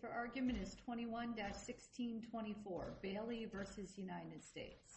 for argument is 21-1624, Bailey versus United States.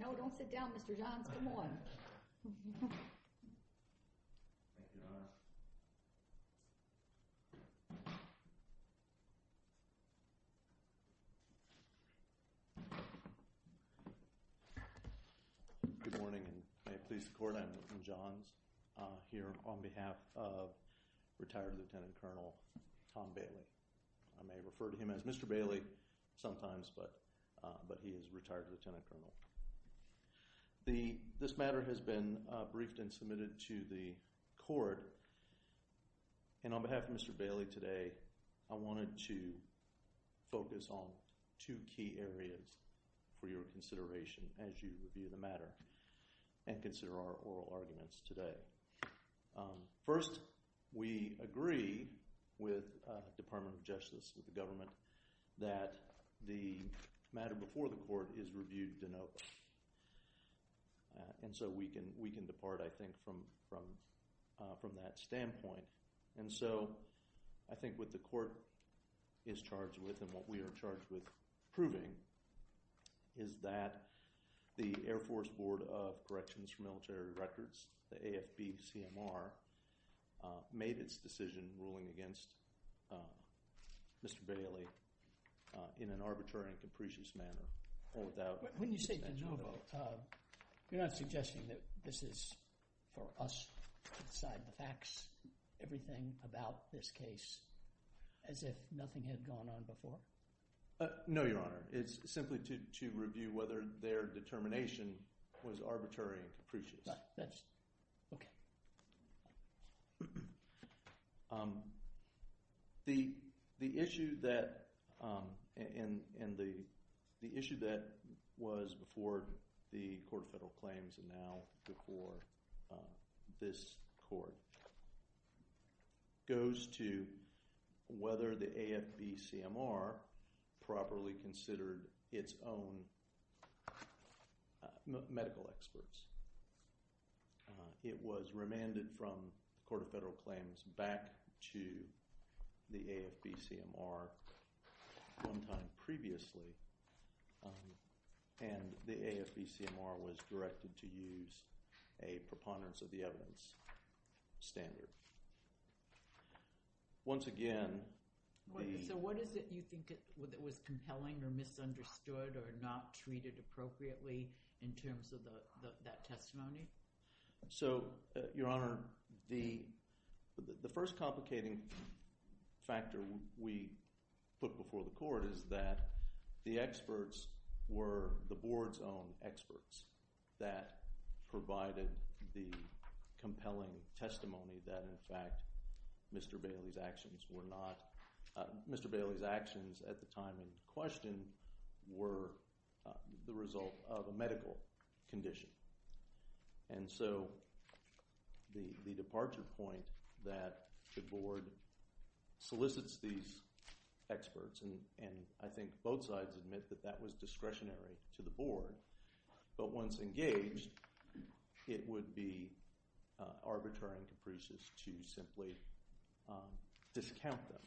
No, don't sit down, Mr. Johns, come on. Good morning, and may it please the court, I'm Milton Johns, here on behalf of retired Lieutenant Colonel Tom Bailey. I may refer to him as Mr. Bailey sometimes, but he is retired Lieutenant Colonel. This matter has been briefed and submitted to the court, and on behalf of Mr. Bailey today, I wanted to focus on two key areas for your consideration as you review the matter and consider our oral arguments today. First, we agree with the Department of Justice, with the government, that the matter before the court is reviewed de novo, and so we can depart, I think, from that standpoint. And so, I think what the court is charged with and what we are charged with proving is that the Air Force Board of Corrections for Military Records, the AFB-CMR, made its decision ruling against Mr. Bailey in an arbitrary and capricious manner, or without... When you say de novo, you're not suggesting that this is for us to decide the facts, everything about this case, as if nothing had gone on before? No, Your Honor, it's simply to review whether their determination was arbitrary and capricious. Okay. The issue that was before the Court of Federal Claims, and now before this Court, goes to whether the AFB-CMR properly considered its own medical experts. It was remanded from the Court of Federal Claims back to the AFB-CMR one time previously, and the AFB-CMR was directed to use a preponderance of the evidence standard. Once again, the... So, what is it you think was compelling or misunderstood or not treated appropriately in terms of that testimony? So, Your Honor, the first complicating factor we put before the Court is that the experts were the Board's own experts that provided the compelling testimony that, in fact, Mr. Bailey's actions were not... Mr. Bailey's actions at the time in question were the result of a medical condition. And so, the departure point that the Board solicits these experts, and I think both sides admit that that was discretionary to the Board, but once engaged, it would be arbitrary and capricious to simply discount them.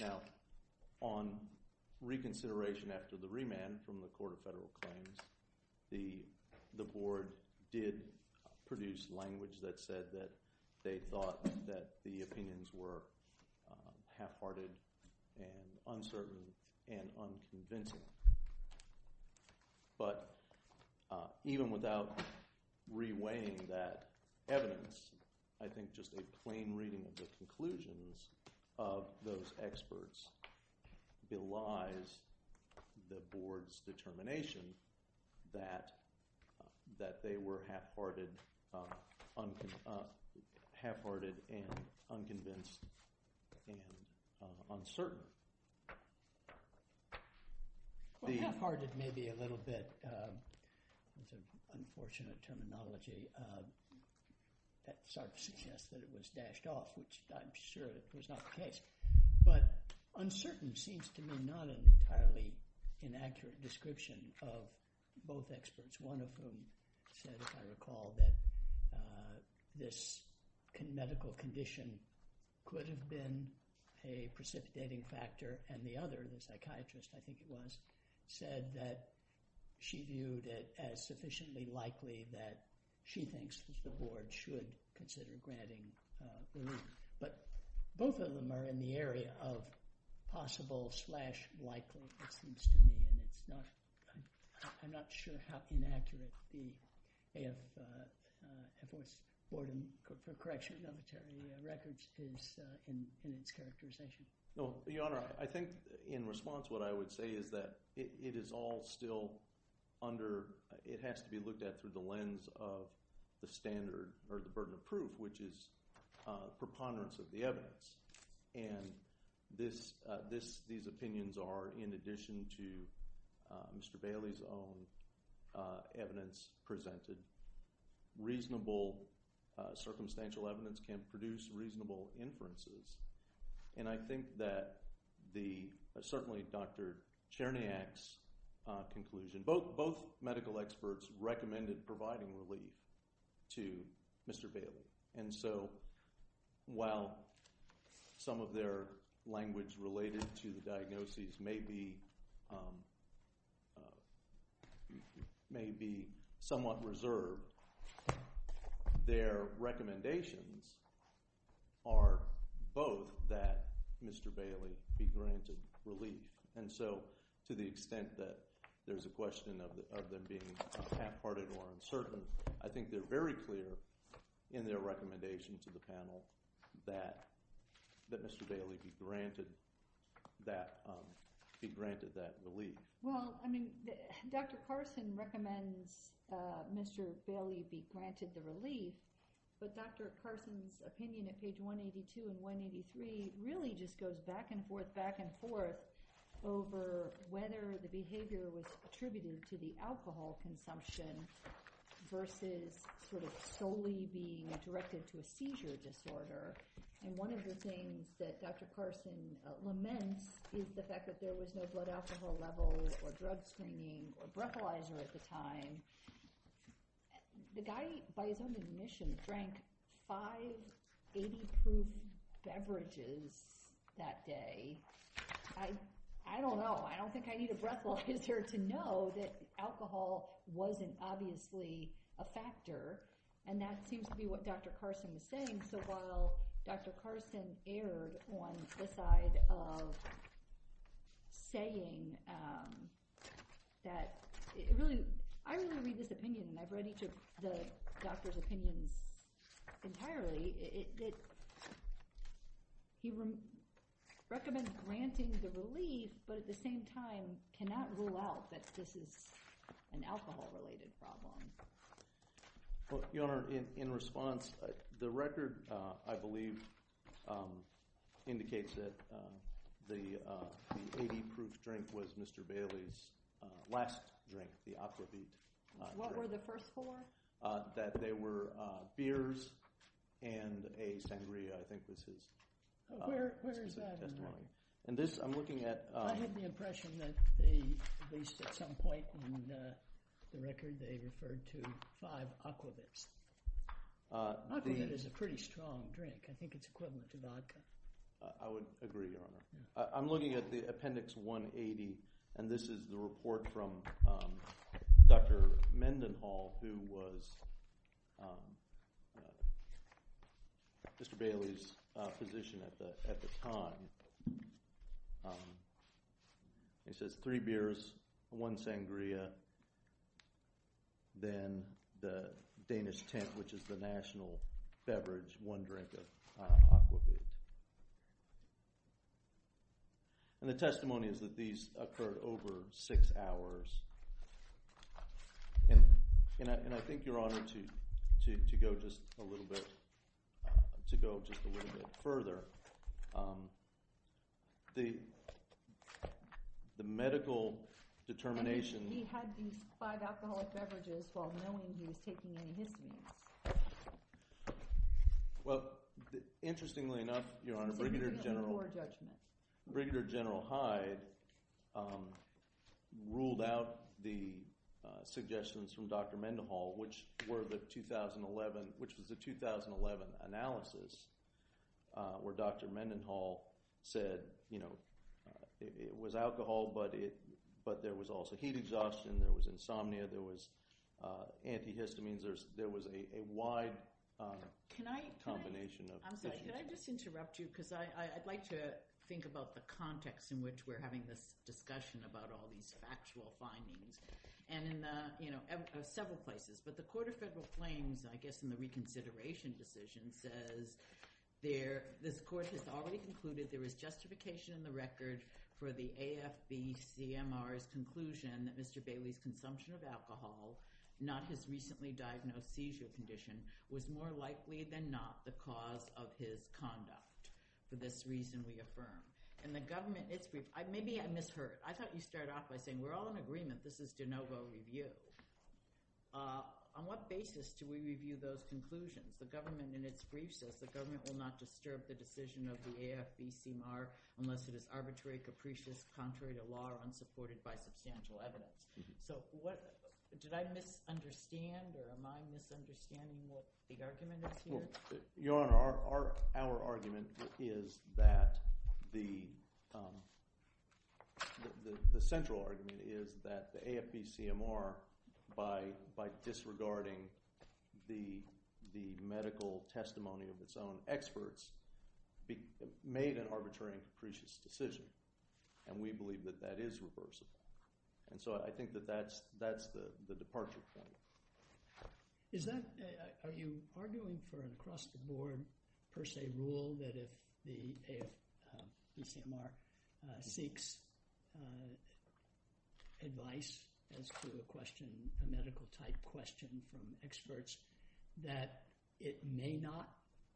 Now, on reconsideration after the remand from the Court of Federal Claims, the Board did produce language that said that they thought that the opinions were half-hearted and uncertain and unconvincing. But, even without re-weighing that evidence, I think just a plain reading of the conclusions of those experts belies the Board's determination that they were half-hearted and unconvinced and uncertain. Well, half-hearted maybe a little bit is an unfortunate terminology that suggests that it was dashed off, which I'm sure was not the case. But, uncertain seems to me not an entirely inaccurate description of both experts, one of whom said, if I recall, that this medical condition could have been a precipitating factor, and the other, the psychiatrist, I think it was, said that she viewed it as sufficiently likely that she thinks that the Board should consider granting relief. But, both of them are in the area of possible slash likely, it seems to me, and I'm not sure how inaccurate the AFLS Board of Correctional Military Records is in its characterization. Well, Your Honor, I think in response what I would say is that it is all still under, it has to be looked at through the lens of the standard, or the burden of proof, which is preponderance of the evidence. And these opinions are, in addition to Mr. Bailey's own evidence presented, reasonable circumstantial evidence can produce reasonable inferences. And I think that the, certainly Dr. Cherniak's conclusion, both medical experts recommended providing relief to Mr. Bailey. And so, while some of their language related to the diagnoses may be, may be somewhat reserved, their recommendations are both that Mr. Bailey be granted relief. And so, to the extent that there's a question of them being half-hearted or uncertain, I don't see their recommendation to the panel that Mr. Bailey be granted that relief. Well, I mean, Dr. Carson recommends Mr. Bailey be granted the relief, but Dr. Carson's opinion at page 182 and 183 really just goes back and forth, back and forth, over whether the And one of the things that Dr. Carson laments is the fact that there was no blood alcohol level or drug screening or breathalyzer at the time. The guy, by his own admission, drank five 80-proof beverages that day. I don't know. I don't think I need a breathalyzer to know that alcohol wasn't obviously a factor. And that seems to be what Dr. Carson is saying. So, while Dr. Carson erred on the side of saying that, it really, I really read this opinion, and I've read each of the doctor's opinions entirely. It, he recommends granting the relief, but at the same time, cannot rule out that this is an alcohol-related problem. Well, Your Honor, in response, the record, I believe, indicates that the 80-proof drink was Mr. Bailey's last drink, the Aquavit. What were the first four? That they were beers and a sangria. I think this is... Where is that in there? And this, I'm looking at... Well, I have the impression that they, at least at some point in the record, they referred to five Aquavits. Aquavit is a pretty strong drink. I think it's equivalent to vodka. I would agree, Your Honor. I'm looking at the Appendix 180, and this is the report from Dr. Mendenhall, who was Mr. Bailey's physician at the time. It says three beers, one sangria, then the Danish tint, which is the national beverage, one drink of Aquavit. And the testimony is that these occurred over six hours. And I think, Your Honor, to go just a little bit further, the medical determination... He had these five alcoholic beverages while knowing he was taking any histamines. Well, interestingly enough, Your Honor, Brigadier General Hyde ruled out the suggestions from Dr. Mendenhall, which was the 2011 analysis, where Dr. Mendenhall said, you know, it was alcohol, but there was also heat exhaustion, there was insomnia, there was antihistamines, there was a wide combination of issues. Can I just interrupt you, because I'd like to think about the context in which we're having this discussion about all these factual findings, and in several places. But the Court of Federal Claims, I guess in the reconsideration decision, says this Court has already concluded there is justification in the record for the AFB-CMR's conclusion that Mr. Bailey's consumption of alcohol, not his recently diagnosed seizure condition, was more likely than not the cause of his conduct. For this reason, we affirm. And the government... Maybe I misheard. I thought you started off by saying we're all in agreement this is de novo review. On what basis do we review those conclusions? The government, in its brief, says the government will not disturb the decision of the AFB-CMR unless it is arbitrary, capricious, contrary to law, or unsupported by substantial evidence. So did I misunderstand, or am I misunderstanding what the argument is here? Your Honor, our argument is that the central argument is that the AFB-CMR, by disregarding the medical testimony of its own experts, made an arbitrary and capricious decision. And we believe that that is reversible. And so I think that that's the departure point. Are you arguing for an across-the-board per se rule that if the AFB-CMR seeks advice as to a question, a medical-type question from experts, that it may not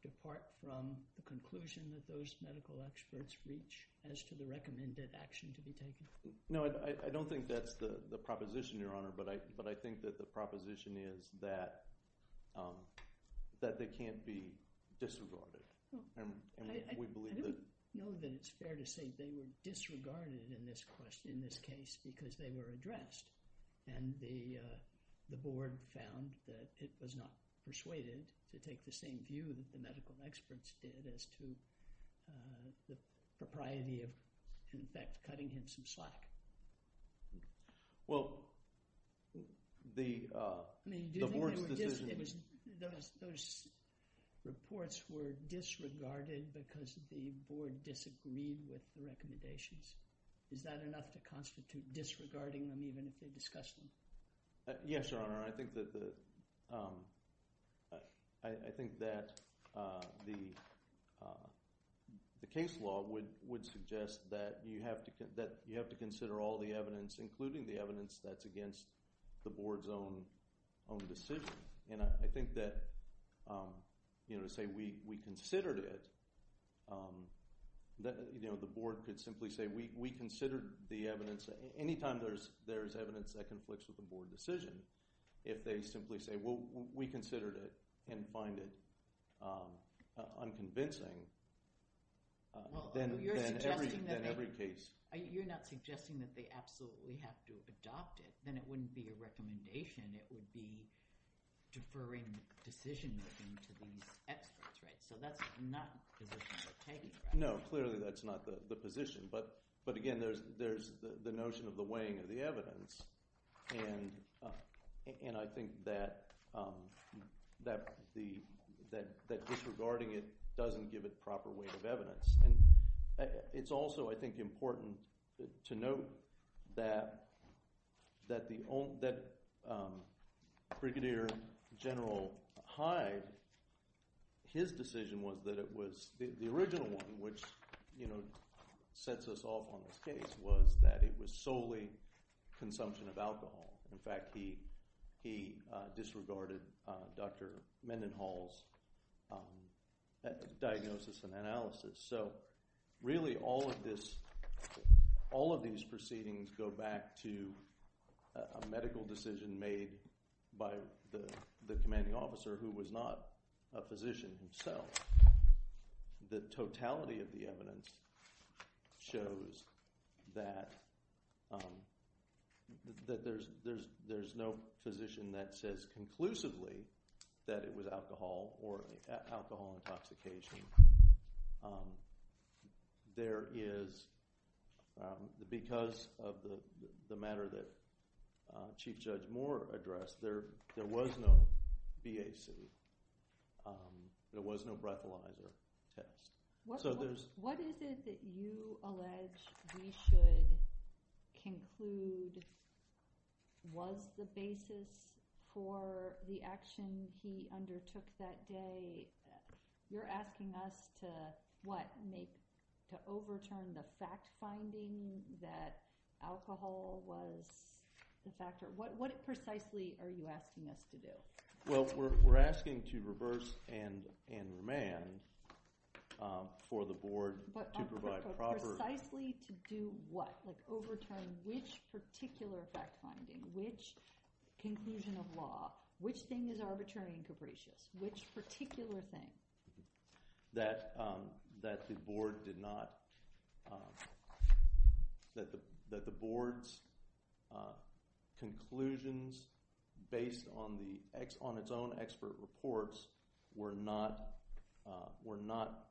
depart from the conclusion that those medical experts reach as to the recommended action to be taken? No, I don't think that's the proposition, Your Honor. But I think that the proposition is that they can't be disregarded. And we believe that... I don't know that it's fair to say they were disregarded in this case because they were addressed. And the board found that it was not persuaded to take the same view that the medical experts did as to the propriety of, in fact, cutting him some slack. Well, the board's decision... Those reports were disregarded because the board disagreed with the recommendations. Is that enough to constitute disregarding them even if they discussed them? Yes, Your Honor. I think that the case law would suggest that you have to consider all the evidence, including the evidence that's against the board's own decision. And I think that to say we considered it, the board could simply say, we considered the evidence. Anytime there's evidence that conflicts with the board decision, if they simply say, well, we considered it and find it unconvincing, then every case... You're not suggesting that they absolutely have to adopt it. Then it wouldn't be a recommendation. It would be deferring decision-making to these experts, right? So that's not the position they're taking, right? No, clearly that's not the position. But, again, there's the notion of the weighing of the evidence. And I think that disregarding it doesn't give it proper weight of evidence. It's also, I think, important to note that Brigadier General Hyde, his decision was that it was the original one, which sets us off on this case, was that it was solely consumption of alcohol. In fact, he disregarded Dr. Mendenhall's diagnosis and analysis. So, really, all of these proceedings go back to a medical decision made by the commanding officer who was not a physician himself. The totality of the evidence shows that there's no physician that says conclusively that it was alcohol or alcohol intoxication. There is, because of the matter that Chief Judge Moore addressed, there was no BAC. There was no breathalyzer test. What is it that you allege we should conclude was the basis for the action he undertook that day? You're asking us to, what, overturn the fact-finding that alcohol was the factor? What precisely are you asking us to do? Well, we're asking to reverse and remand for the Board to provide proper— But precisely to do what? Like overturn which particular fact-finding, which conclusion of law, which thing is arbitrary and capricious, which particular thing? That the Board's conclusions based on its own expert reports were not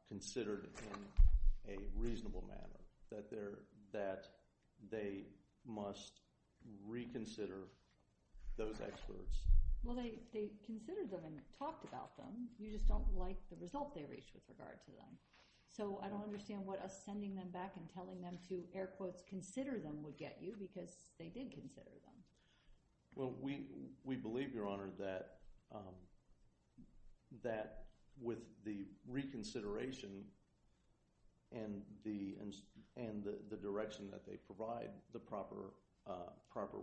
considered in a reasonable manner. That they must reconsider those experts. Well, they considered them and talked about them. You just don't like the result they reached with regard to them. So I don't understand what us sending them back and telling them to, air quotes, consider them would get you because they did consider them. Well, we believe, Your Honor, that with the reconsideration and the direction that they provide, the proper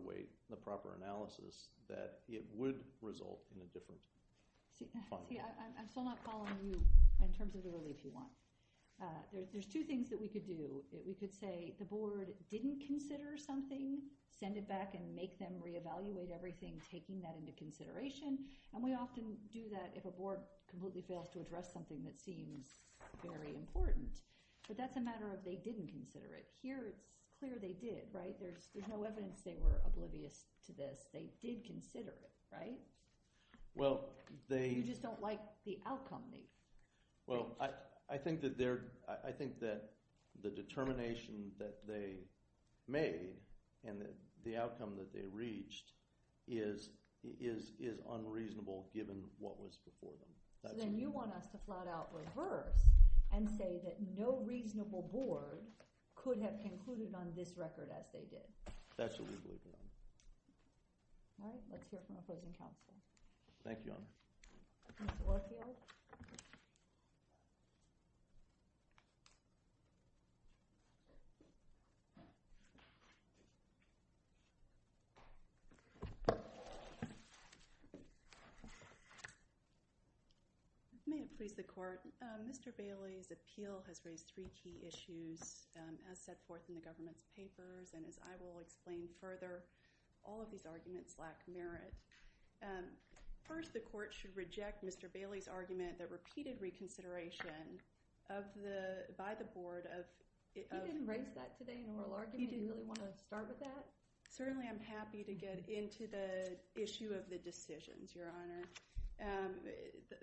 weight, the proper analysis, that it would result in a different— See, I'm still not following you in terms of the relief you want. There's two things that we could do. We could say the Board didn't consider something, send it back and make them reevaluate everything, taking that into consideration. And we often do that if a Board completely fails to address something that seems very important. But that's a matter of they didn't consider it. Here it's clear they did, right? There's no evidence they were oblivious to this. They did consider it, right? You just don't like the outcome they reached. Well, I think that the determination that they made and the outcome that they reached is unreasonable given what was before them. So then you want us to flat out reverse and say that no reasonable Board could have concluded on this record as they did. That's what we believe in. All right. Let's hear from opposing counsel. Thank you, Honor. Mr. Warfield. May it please the Court. Mr. Bailey's appeal has raised three key issues as set forth in the government's papers. And as I will explain further, all of these arguments lack merit. First, the Court should reject Mr. Bailey's argument that repeated reconsideration by the Board ofó He didn't raise that today in oral argument. He didn't really want to start with that. Certainly I'm happy to get into the issue of the decisions, Your Honor.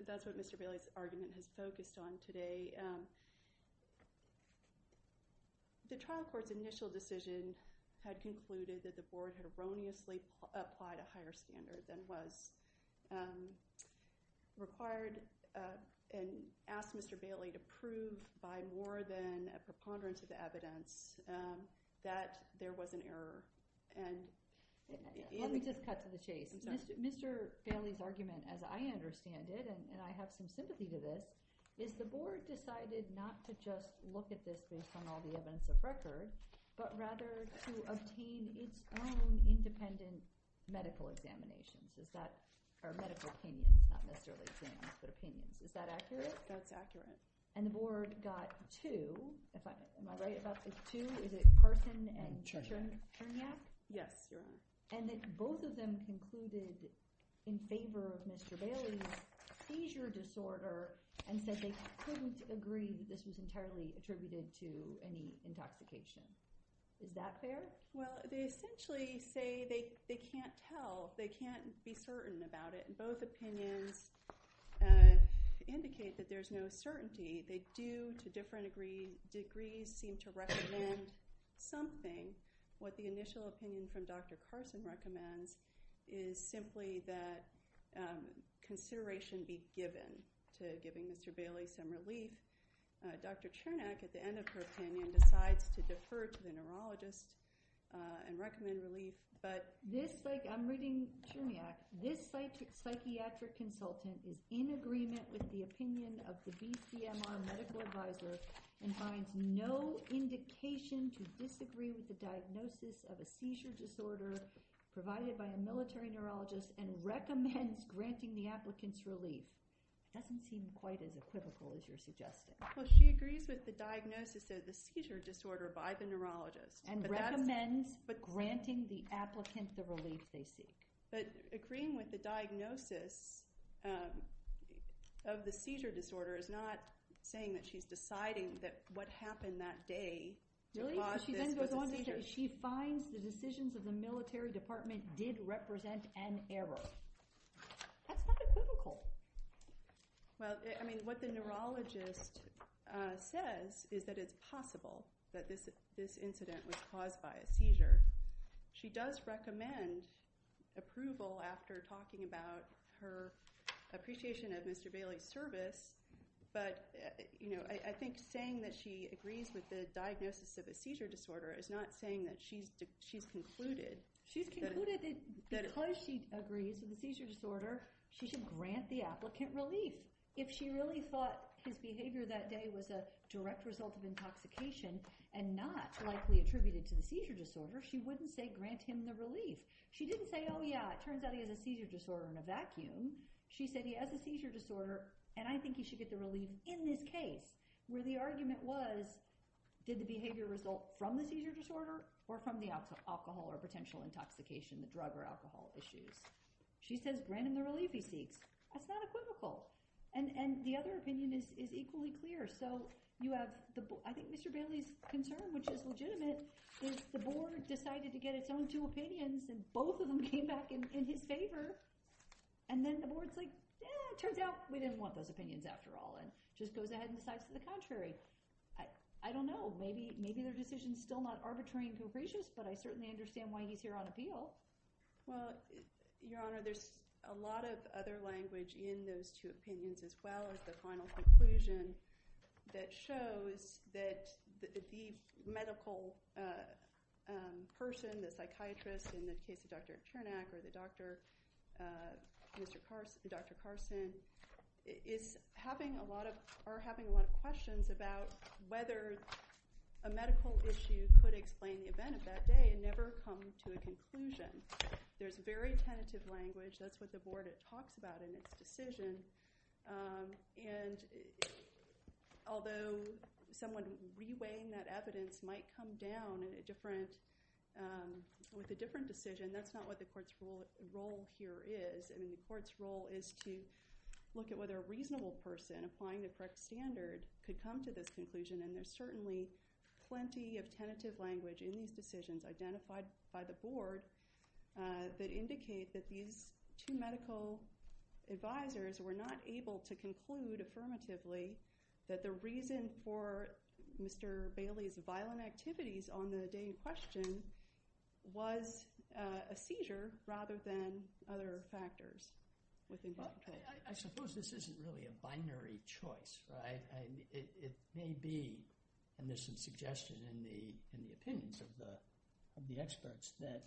That's what Mr. Bailey's argument has focused on today. The trial court's initial decision had concluded that the Board had erroneously applied a higher standard than was required and asked Mr. Bailey to prove by more than a preponderance of the evidence that there was an error. Let me just cut to the chase. Mr. Bailey's argument, as I understand it, and I have some sympathy to this, is the Board decided not to just look at this based on all the evidence of record but rather to obtain its own independent medical examinationsó or medical opinions, not necessarily exams, but opinions. Is that accurate? That's accurate. And the Board got twoóam I right about this? Twoóis it Carson and Chernyak? Yes, Your Honor. And both of them concluded in favor of Mr. Bailey's seizure disorder and said they couldn't agree this was entirely attributed to any intoxication. Is that fair? Well, they essentially say they can't tell, they can't be certain about it, and both opinions indicate that there's no certainty. They do, to different degrees, seem to recommend something. What the initial opinion from Dr. Carson recommends is simply that consideration be given to giving Mr. Bailey some relief. Dr. Chernyak, at the end of her opinion, decides to defer to the neurologist and recommend relief, but thisóI'm reading Chernyakó this psychiatric consultant is in agreement with the opinion of the BCMR medical advisor and finds no indication to disagree with the diagnosis of a seizure disorder provided by a military neurologist and recommends granting the applicants relief. It doesn't seem quite as equivocal as you're suggesting. Well, she agrees with the diagnosis of the seizure disorder by the neurologist. And recommends granting the applicant the relief they seek. But agreeing with the diagnosis of the seizure disorder is not saying that she's deciding that what happened that day caused this seizure. She finds the decisions of the military department did represent an error. That's not equivocal. Well, I mean, what the neurologist says is that it's possible that this incident was caused by a seizure. She does recommend approval after talking about her appreciation of Mr. Bailey's service, but I think saying that she agrees with the diagnosis of a seizure disorder is not saying that she's concludedó She's concluded that because she agrees with the seizure disorder, she should grant the applicant relief. If she really thought his behavior that day was a direct result of intoxication and not likely attributed to the seizure disorder, she wouldn't say grant him the relief. She didn't say, oh yeah, it turns out he has a seizure disorder in a vacuum. She said he has a seizure disorder, and I think he should get the relief in this case where the argument was did the behavior result from the seizure disorder or from the alcohol or potential intoxication, the drug or alcohol issues. She says grant him the relief he seeks. That's not equivocal. And the other opinion is equally clear. So you haveóI think Mr. Bailey's concern, which is legitimate, is the board decided to get its own two opinions, and both of them came back in his favor. And then the board is like, yeah, it turns out we didn't want those opinions after all and just goes ahead and decides to the contrary. I don't know. Maybe their decision is still not arbitrary and capricious, but I certainly understand why he's here on appeal. Well, Your Honor, there's a lot of other language in those two opinions as well as the final conclusion that shows that the medical person, the psychiatrist in the case of Dr. Chernak or Dr. Carson, are having a lot of questions about whether a medical issue could explain the event of that day and never come to a conclusion. There's very tentative language. That's what the board talks about in its decision. And although someone reweighing that evidence might come down with a different decision, that's not what the court's role here is. I mean the court's role is to look at whether a reasonable person applying the correct standard could come to this conclusion, and there's certainly plenty of tentative language in these decisions identified by the board that indicate that these two medical advisors were not able to conclude affirmatively that the reason for Mr. Bailey's violent activities on the day in question was a seizure rather than other factors. I suppose this isn't really a binary choice. It may be, and this is suggested in the opinions of the experts, that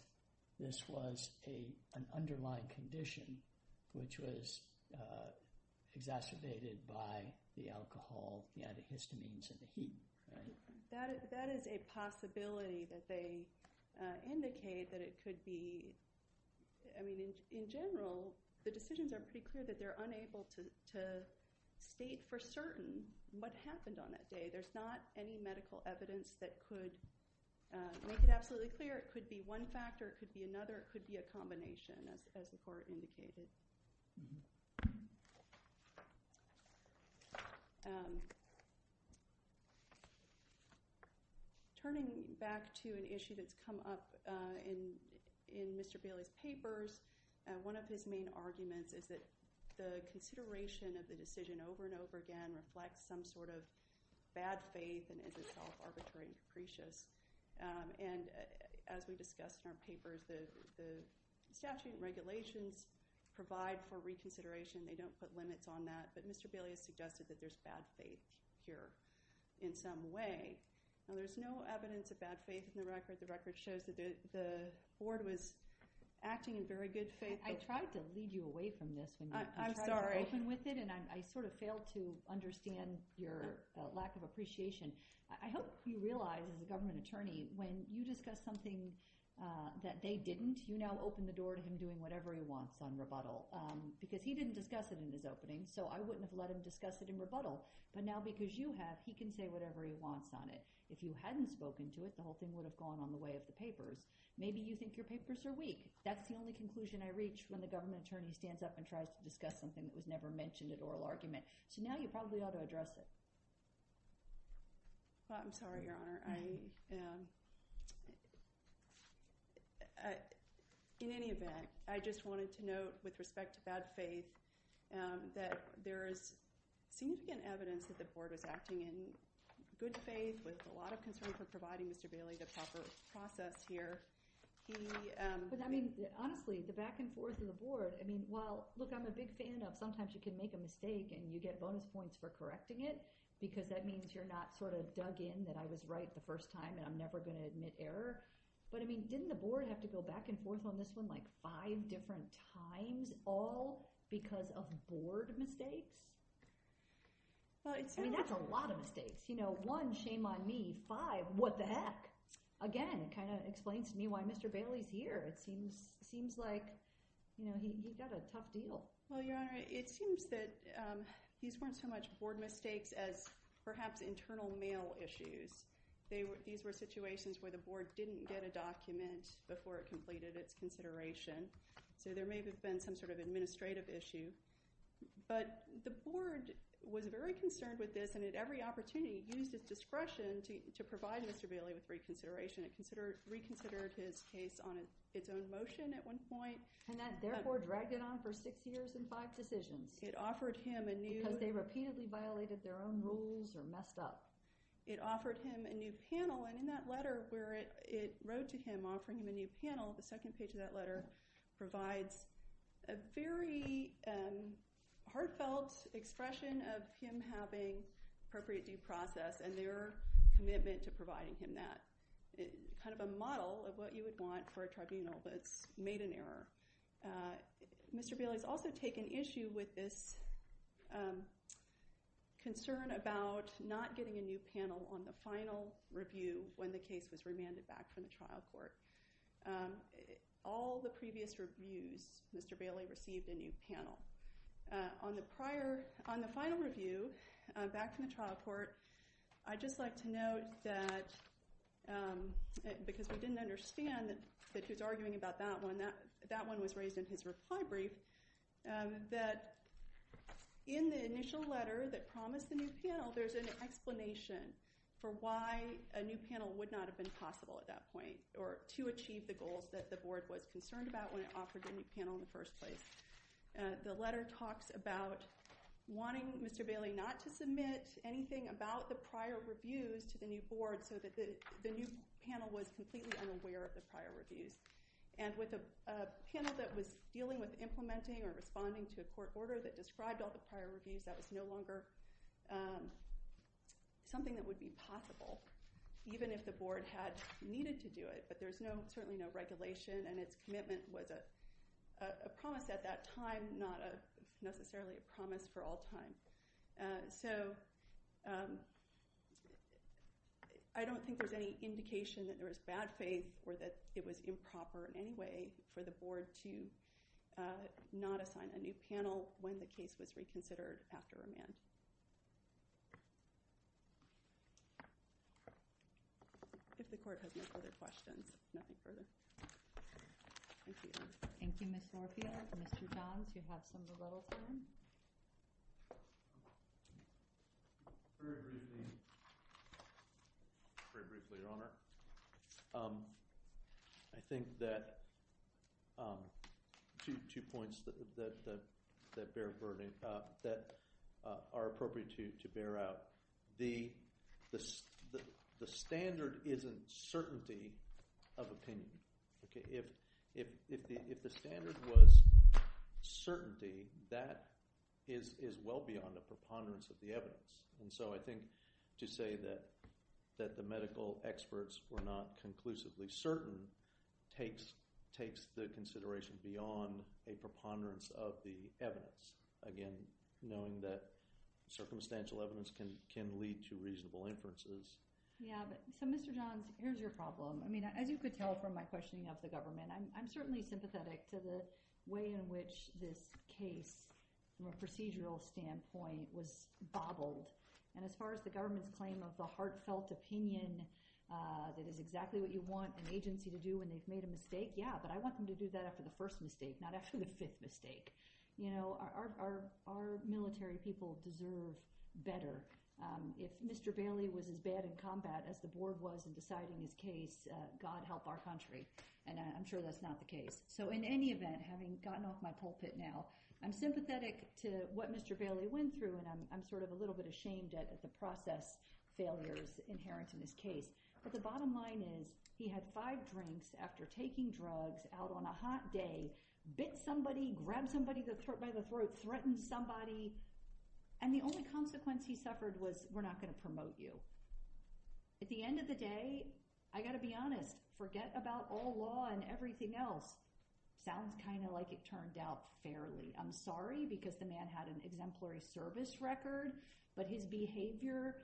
this was an underlying condition which was exacerbated by the alcohol, the antihistamines, and the heat. That is a possibility that they indicate that it could be. I mean in general, the decisions are pretty clear that they're unable to state for certain what happened on that day. There's not any medical evidence that could make it absolutely clear it could be one factor, it could be another, it could be a combination as the court indicated. Turning back to an issue that's come up in Mr. Bailey's papers, one of his main arguments is that the consideration of the decision over and over again reflects some sort of bad faith and is itself arbitrary and capricious. And as we discussed in our papers, the statute and regulations provide an opportunity to provide for reconsideration. They don't put limits on that. But Mr. Bailey has suggested that there's bad faith here in some way. Now there's no evidence of bad faith in the record. The record shows that the board was acting in very good faith. I tried to lead you away from this. I'm sorry. I tried to open with it and I sort of failed to understand your lack of appreciation. I hope you realize, as a government attorney, when you discuss something that they didn't, you now open the door to him doing whatever he wants on rebuttal because he didn't discuss it in his opening, so I wouldn't have let him discuss it in rebuttal. But now because you have, he can say whatever he wants on it. If you hadn't spoken to it, the whole thing would have gone on the way of the papers. Maybe you think your papers are weak. That's the only conclusion I reach when the government attorney stands up and tries to discuss something that was never mentioned at oral argument. So now you probably ought to address it. I'm sorry, Your Honor. In any event, I just wanted to note with respect to bad faith that there is significant evidence that the board was acting in good faith with a lot of concern for providing Mr. Bailey the proper process here. But, I mean, honestly, the back and forth of the board, I mean, well, look, I'm a big fan of sometimes you can make a mistake and you get bonus points for correcting it because that means you're not sort of dug in that I was right the first time and I'm never going to admit error. But, I mean, didn't the board have to go back and forth on this one like five different times all because of board mistakes? I mean, that's a lot of mistakes. One, shame on me. Five, what the heck. Again, it kind of explains to me why Mr. Bailey is here. It seems like he's got a tough deal. Well, Your Honor, it seems that these weren't so much board mistakes as perhaps internal mail issues. These were situations where the board didn't get a document before it completed its consideration. So there may have been some sort of administrative issue. But the board was very concerned with this and at every opportunity used its discretion to provide Mr. Bailey with reconsideration. It reconsidered his case on its own motion at one point. And that therefore dragged it on for six years and five decisions because they repeatedly violated their own rules or messed up. It offered him a new panel. And in that letter where it wrote to him offering him a new panel, the second page of that letter provides a very heartfelt expression of him having appropriate due process and their commitment to providing him that. Kind of a model of what you would want for a tribunal that's made an error. Mr. Bailey's also taken issue with this concern about not getting a new panel on the final review when the case was remanded back from the trial court. All the previous reviews, Mr. Bailey received a new panel. On the final review back from the trial court, I'd just like to note that because we didn't understand that he was arguing about that one, that one was raised in his reply brief, that in the initial letter that promised the new panel, there's an explanation for why a new panel would not have been possible at that point or to achieve the goals that the board was concerned about when it offered a new panel in the first place. The letter talks about wanting Mr. Bailey not to submit anything about the prior reviews to the new board so that the new panel was completely unaware of the prior reviews. And with a panel that was dealing with implementing or responding to a court order that described all the prior reviews, that was no longer something that would be possible, even if the board had needed to do it. But there's certainly no regulation, and its commitment was a promise at that time, not necessarily a promise for all time. So I don't think there's any indication that there was bad faith or that it was improper in any way for the board to not assign a new panel when the case was reconsidered after a month. If the court has no further questions, nothing further. Thank you. Thank you, Ms. Norfield. Mr. Johns, you have some of the letter for him? Very briefly, Your Honor. I think that two points that are appropriate to bear out. The standard isn't certainty of opinion. If the standard was certainty, that is well beyond the preponderance of the evidence. And so I think to say that the medical experts were not conclusively certain takes the consideration beyond a preponderance of the evidence. Again, knowing that circumstantial evidence can lead to reasonable inferences. So, Mr. Johns, here's your problem. I mean, as you could tell from my questioning of the government, I'm certainly sympathetic to the way in which this case, from a procedural standpoint, was bobbled. And as far as the government's claim of the heartfelt opinion that is exactly what you want an agency to do when they've made a mistake, yeah, but I want them to do that after the first mistake, not after the fifth mistake. You know, our military people deserve better. If Mr. Bailey was as bad in combat as the board was in deciding his case, God help our country. And I'm sure that's not the case. So in any event, having gotten off my pulpit now, I'm sympathetic to what Mr. Bailey went through, and I'm sort of a little bit ashamed at the process failures inherent in his case. But the bottom line is he had five drinks after taking drugs out on a hot day, bit somebody, grabbed somebody by the throat, threatened somebody, and the only consequence he suffered was, we're not going to promote you. At the end of the day, I got to be honest, forget about all law and everything else. Sounds kind of like it turned out fairly. I'm sorry because the man had an exemplary service record, but his behavior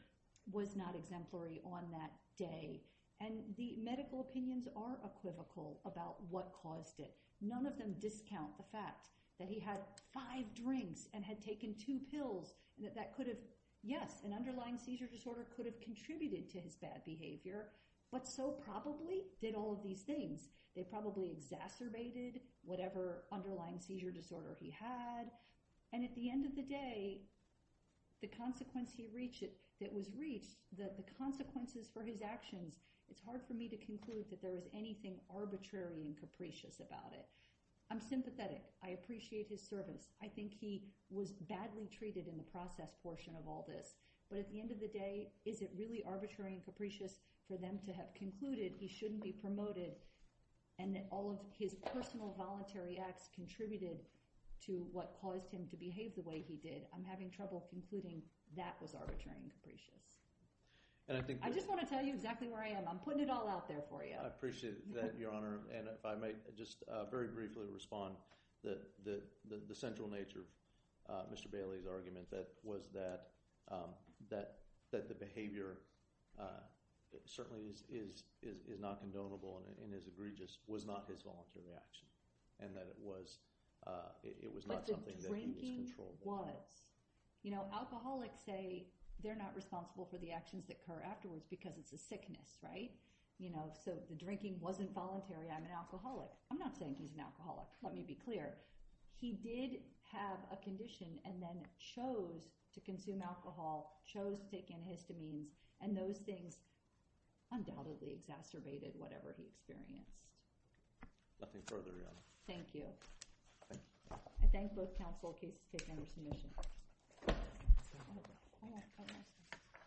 was not exemplary on that day. And the medical opinions are equivocal about what caused it. None of them discount the fact that he had five drinks and had taken two pills and that that could have, yes, an underlying seizure disorder could have contributed to his bad behavior, but so probably did all of these things. They probably exacerbated whatever underlying seizure disorder he had. And at the end of the day, the consequence he reached, that was reached, the consequences for his actions, it's hard for me to conclude that there was anything arbitrary and capricious about it. I'm sympathetic. I appreciate his service. I think he was badly treated in the process portion of all this. But at the end of the day, is it really arbitrary and capricious for them to have concluded he shouldn't be promoted and that all of his personal voluntary acts contributed to what caused him to behave the way he did? I'm having trouble concluding that was arbitrary and capricious. I just want to tell you exactly where I am. I'm putting it all out there for you. I appreciate that, Your Honor. And if I might just very briefly respond, the central nature of Mr. Bailey's argument was that the behavior certainly is not condonable and is egregious was not his voluntary action and that it was not something that he was controlling. But the drinking was. Alcoholics say they're not responsible for the actions that occur afterwards because it's a sickness, right? So the drinking wasn't voluntary. I'm an alcoholic. I'm not saying he's an alcoholic. Let me be clear. He did have a condition and then chose to consume alcohol, chose to take antihistamines, and those things undoubtedly exacerbated whatever he experienced. Nothing further, Your Honor. Thank you. I thank both counsel in case it's taken under submission.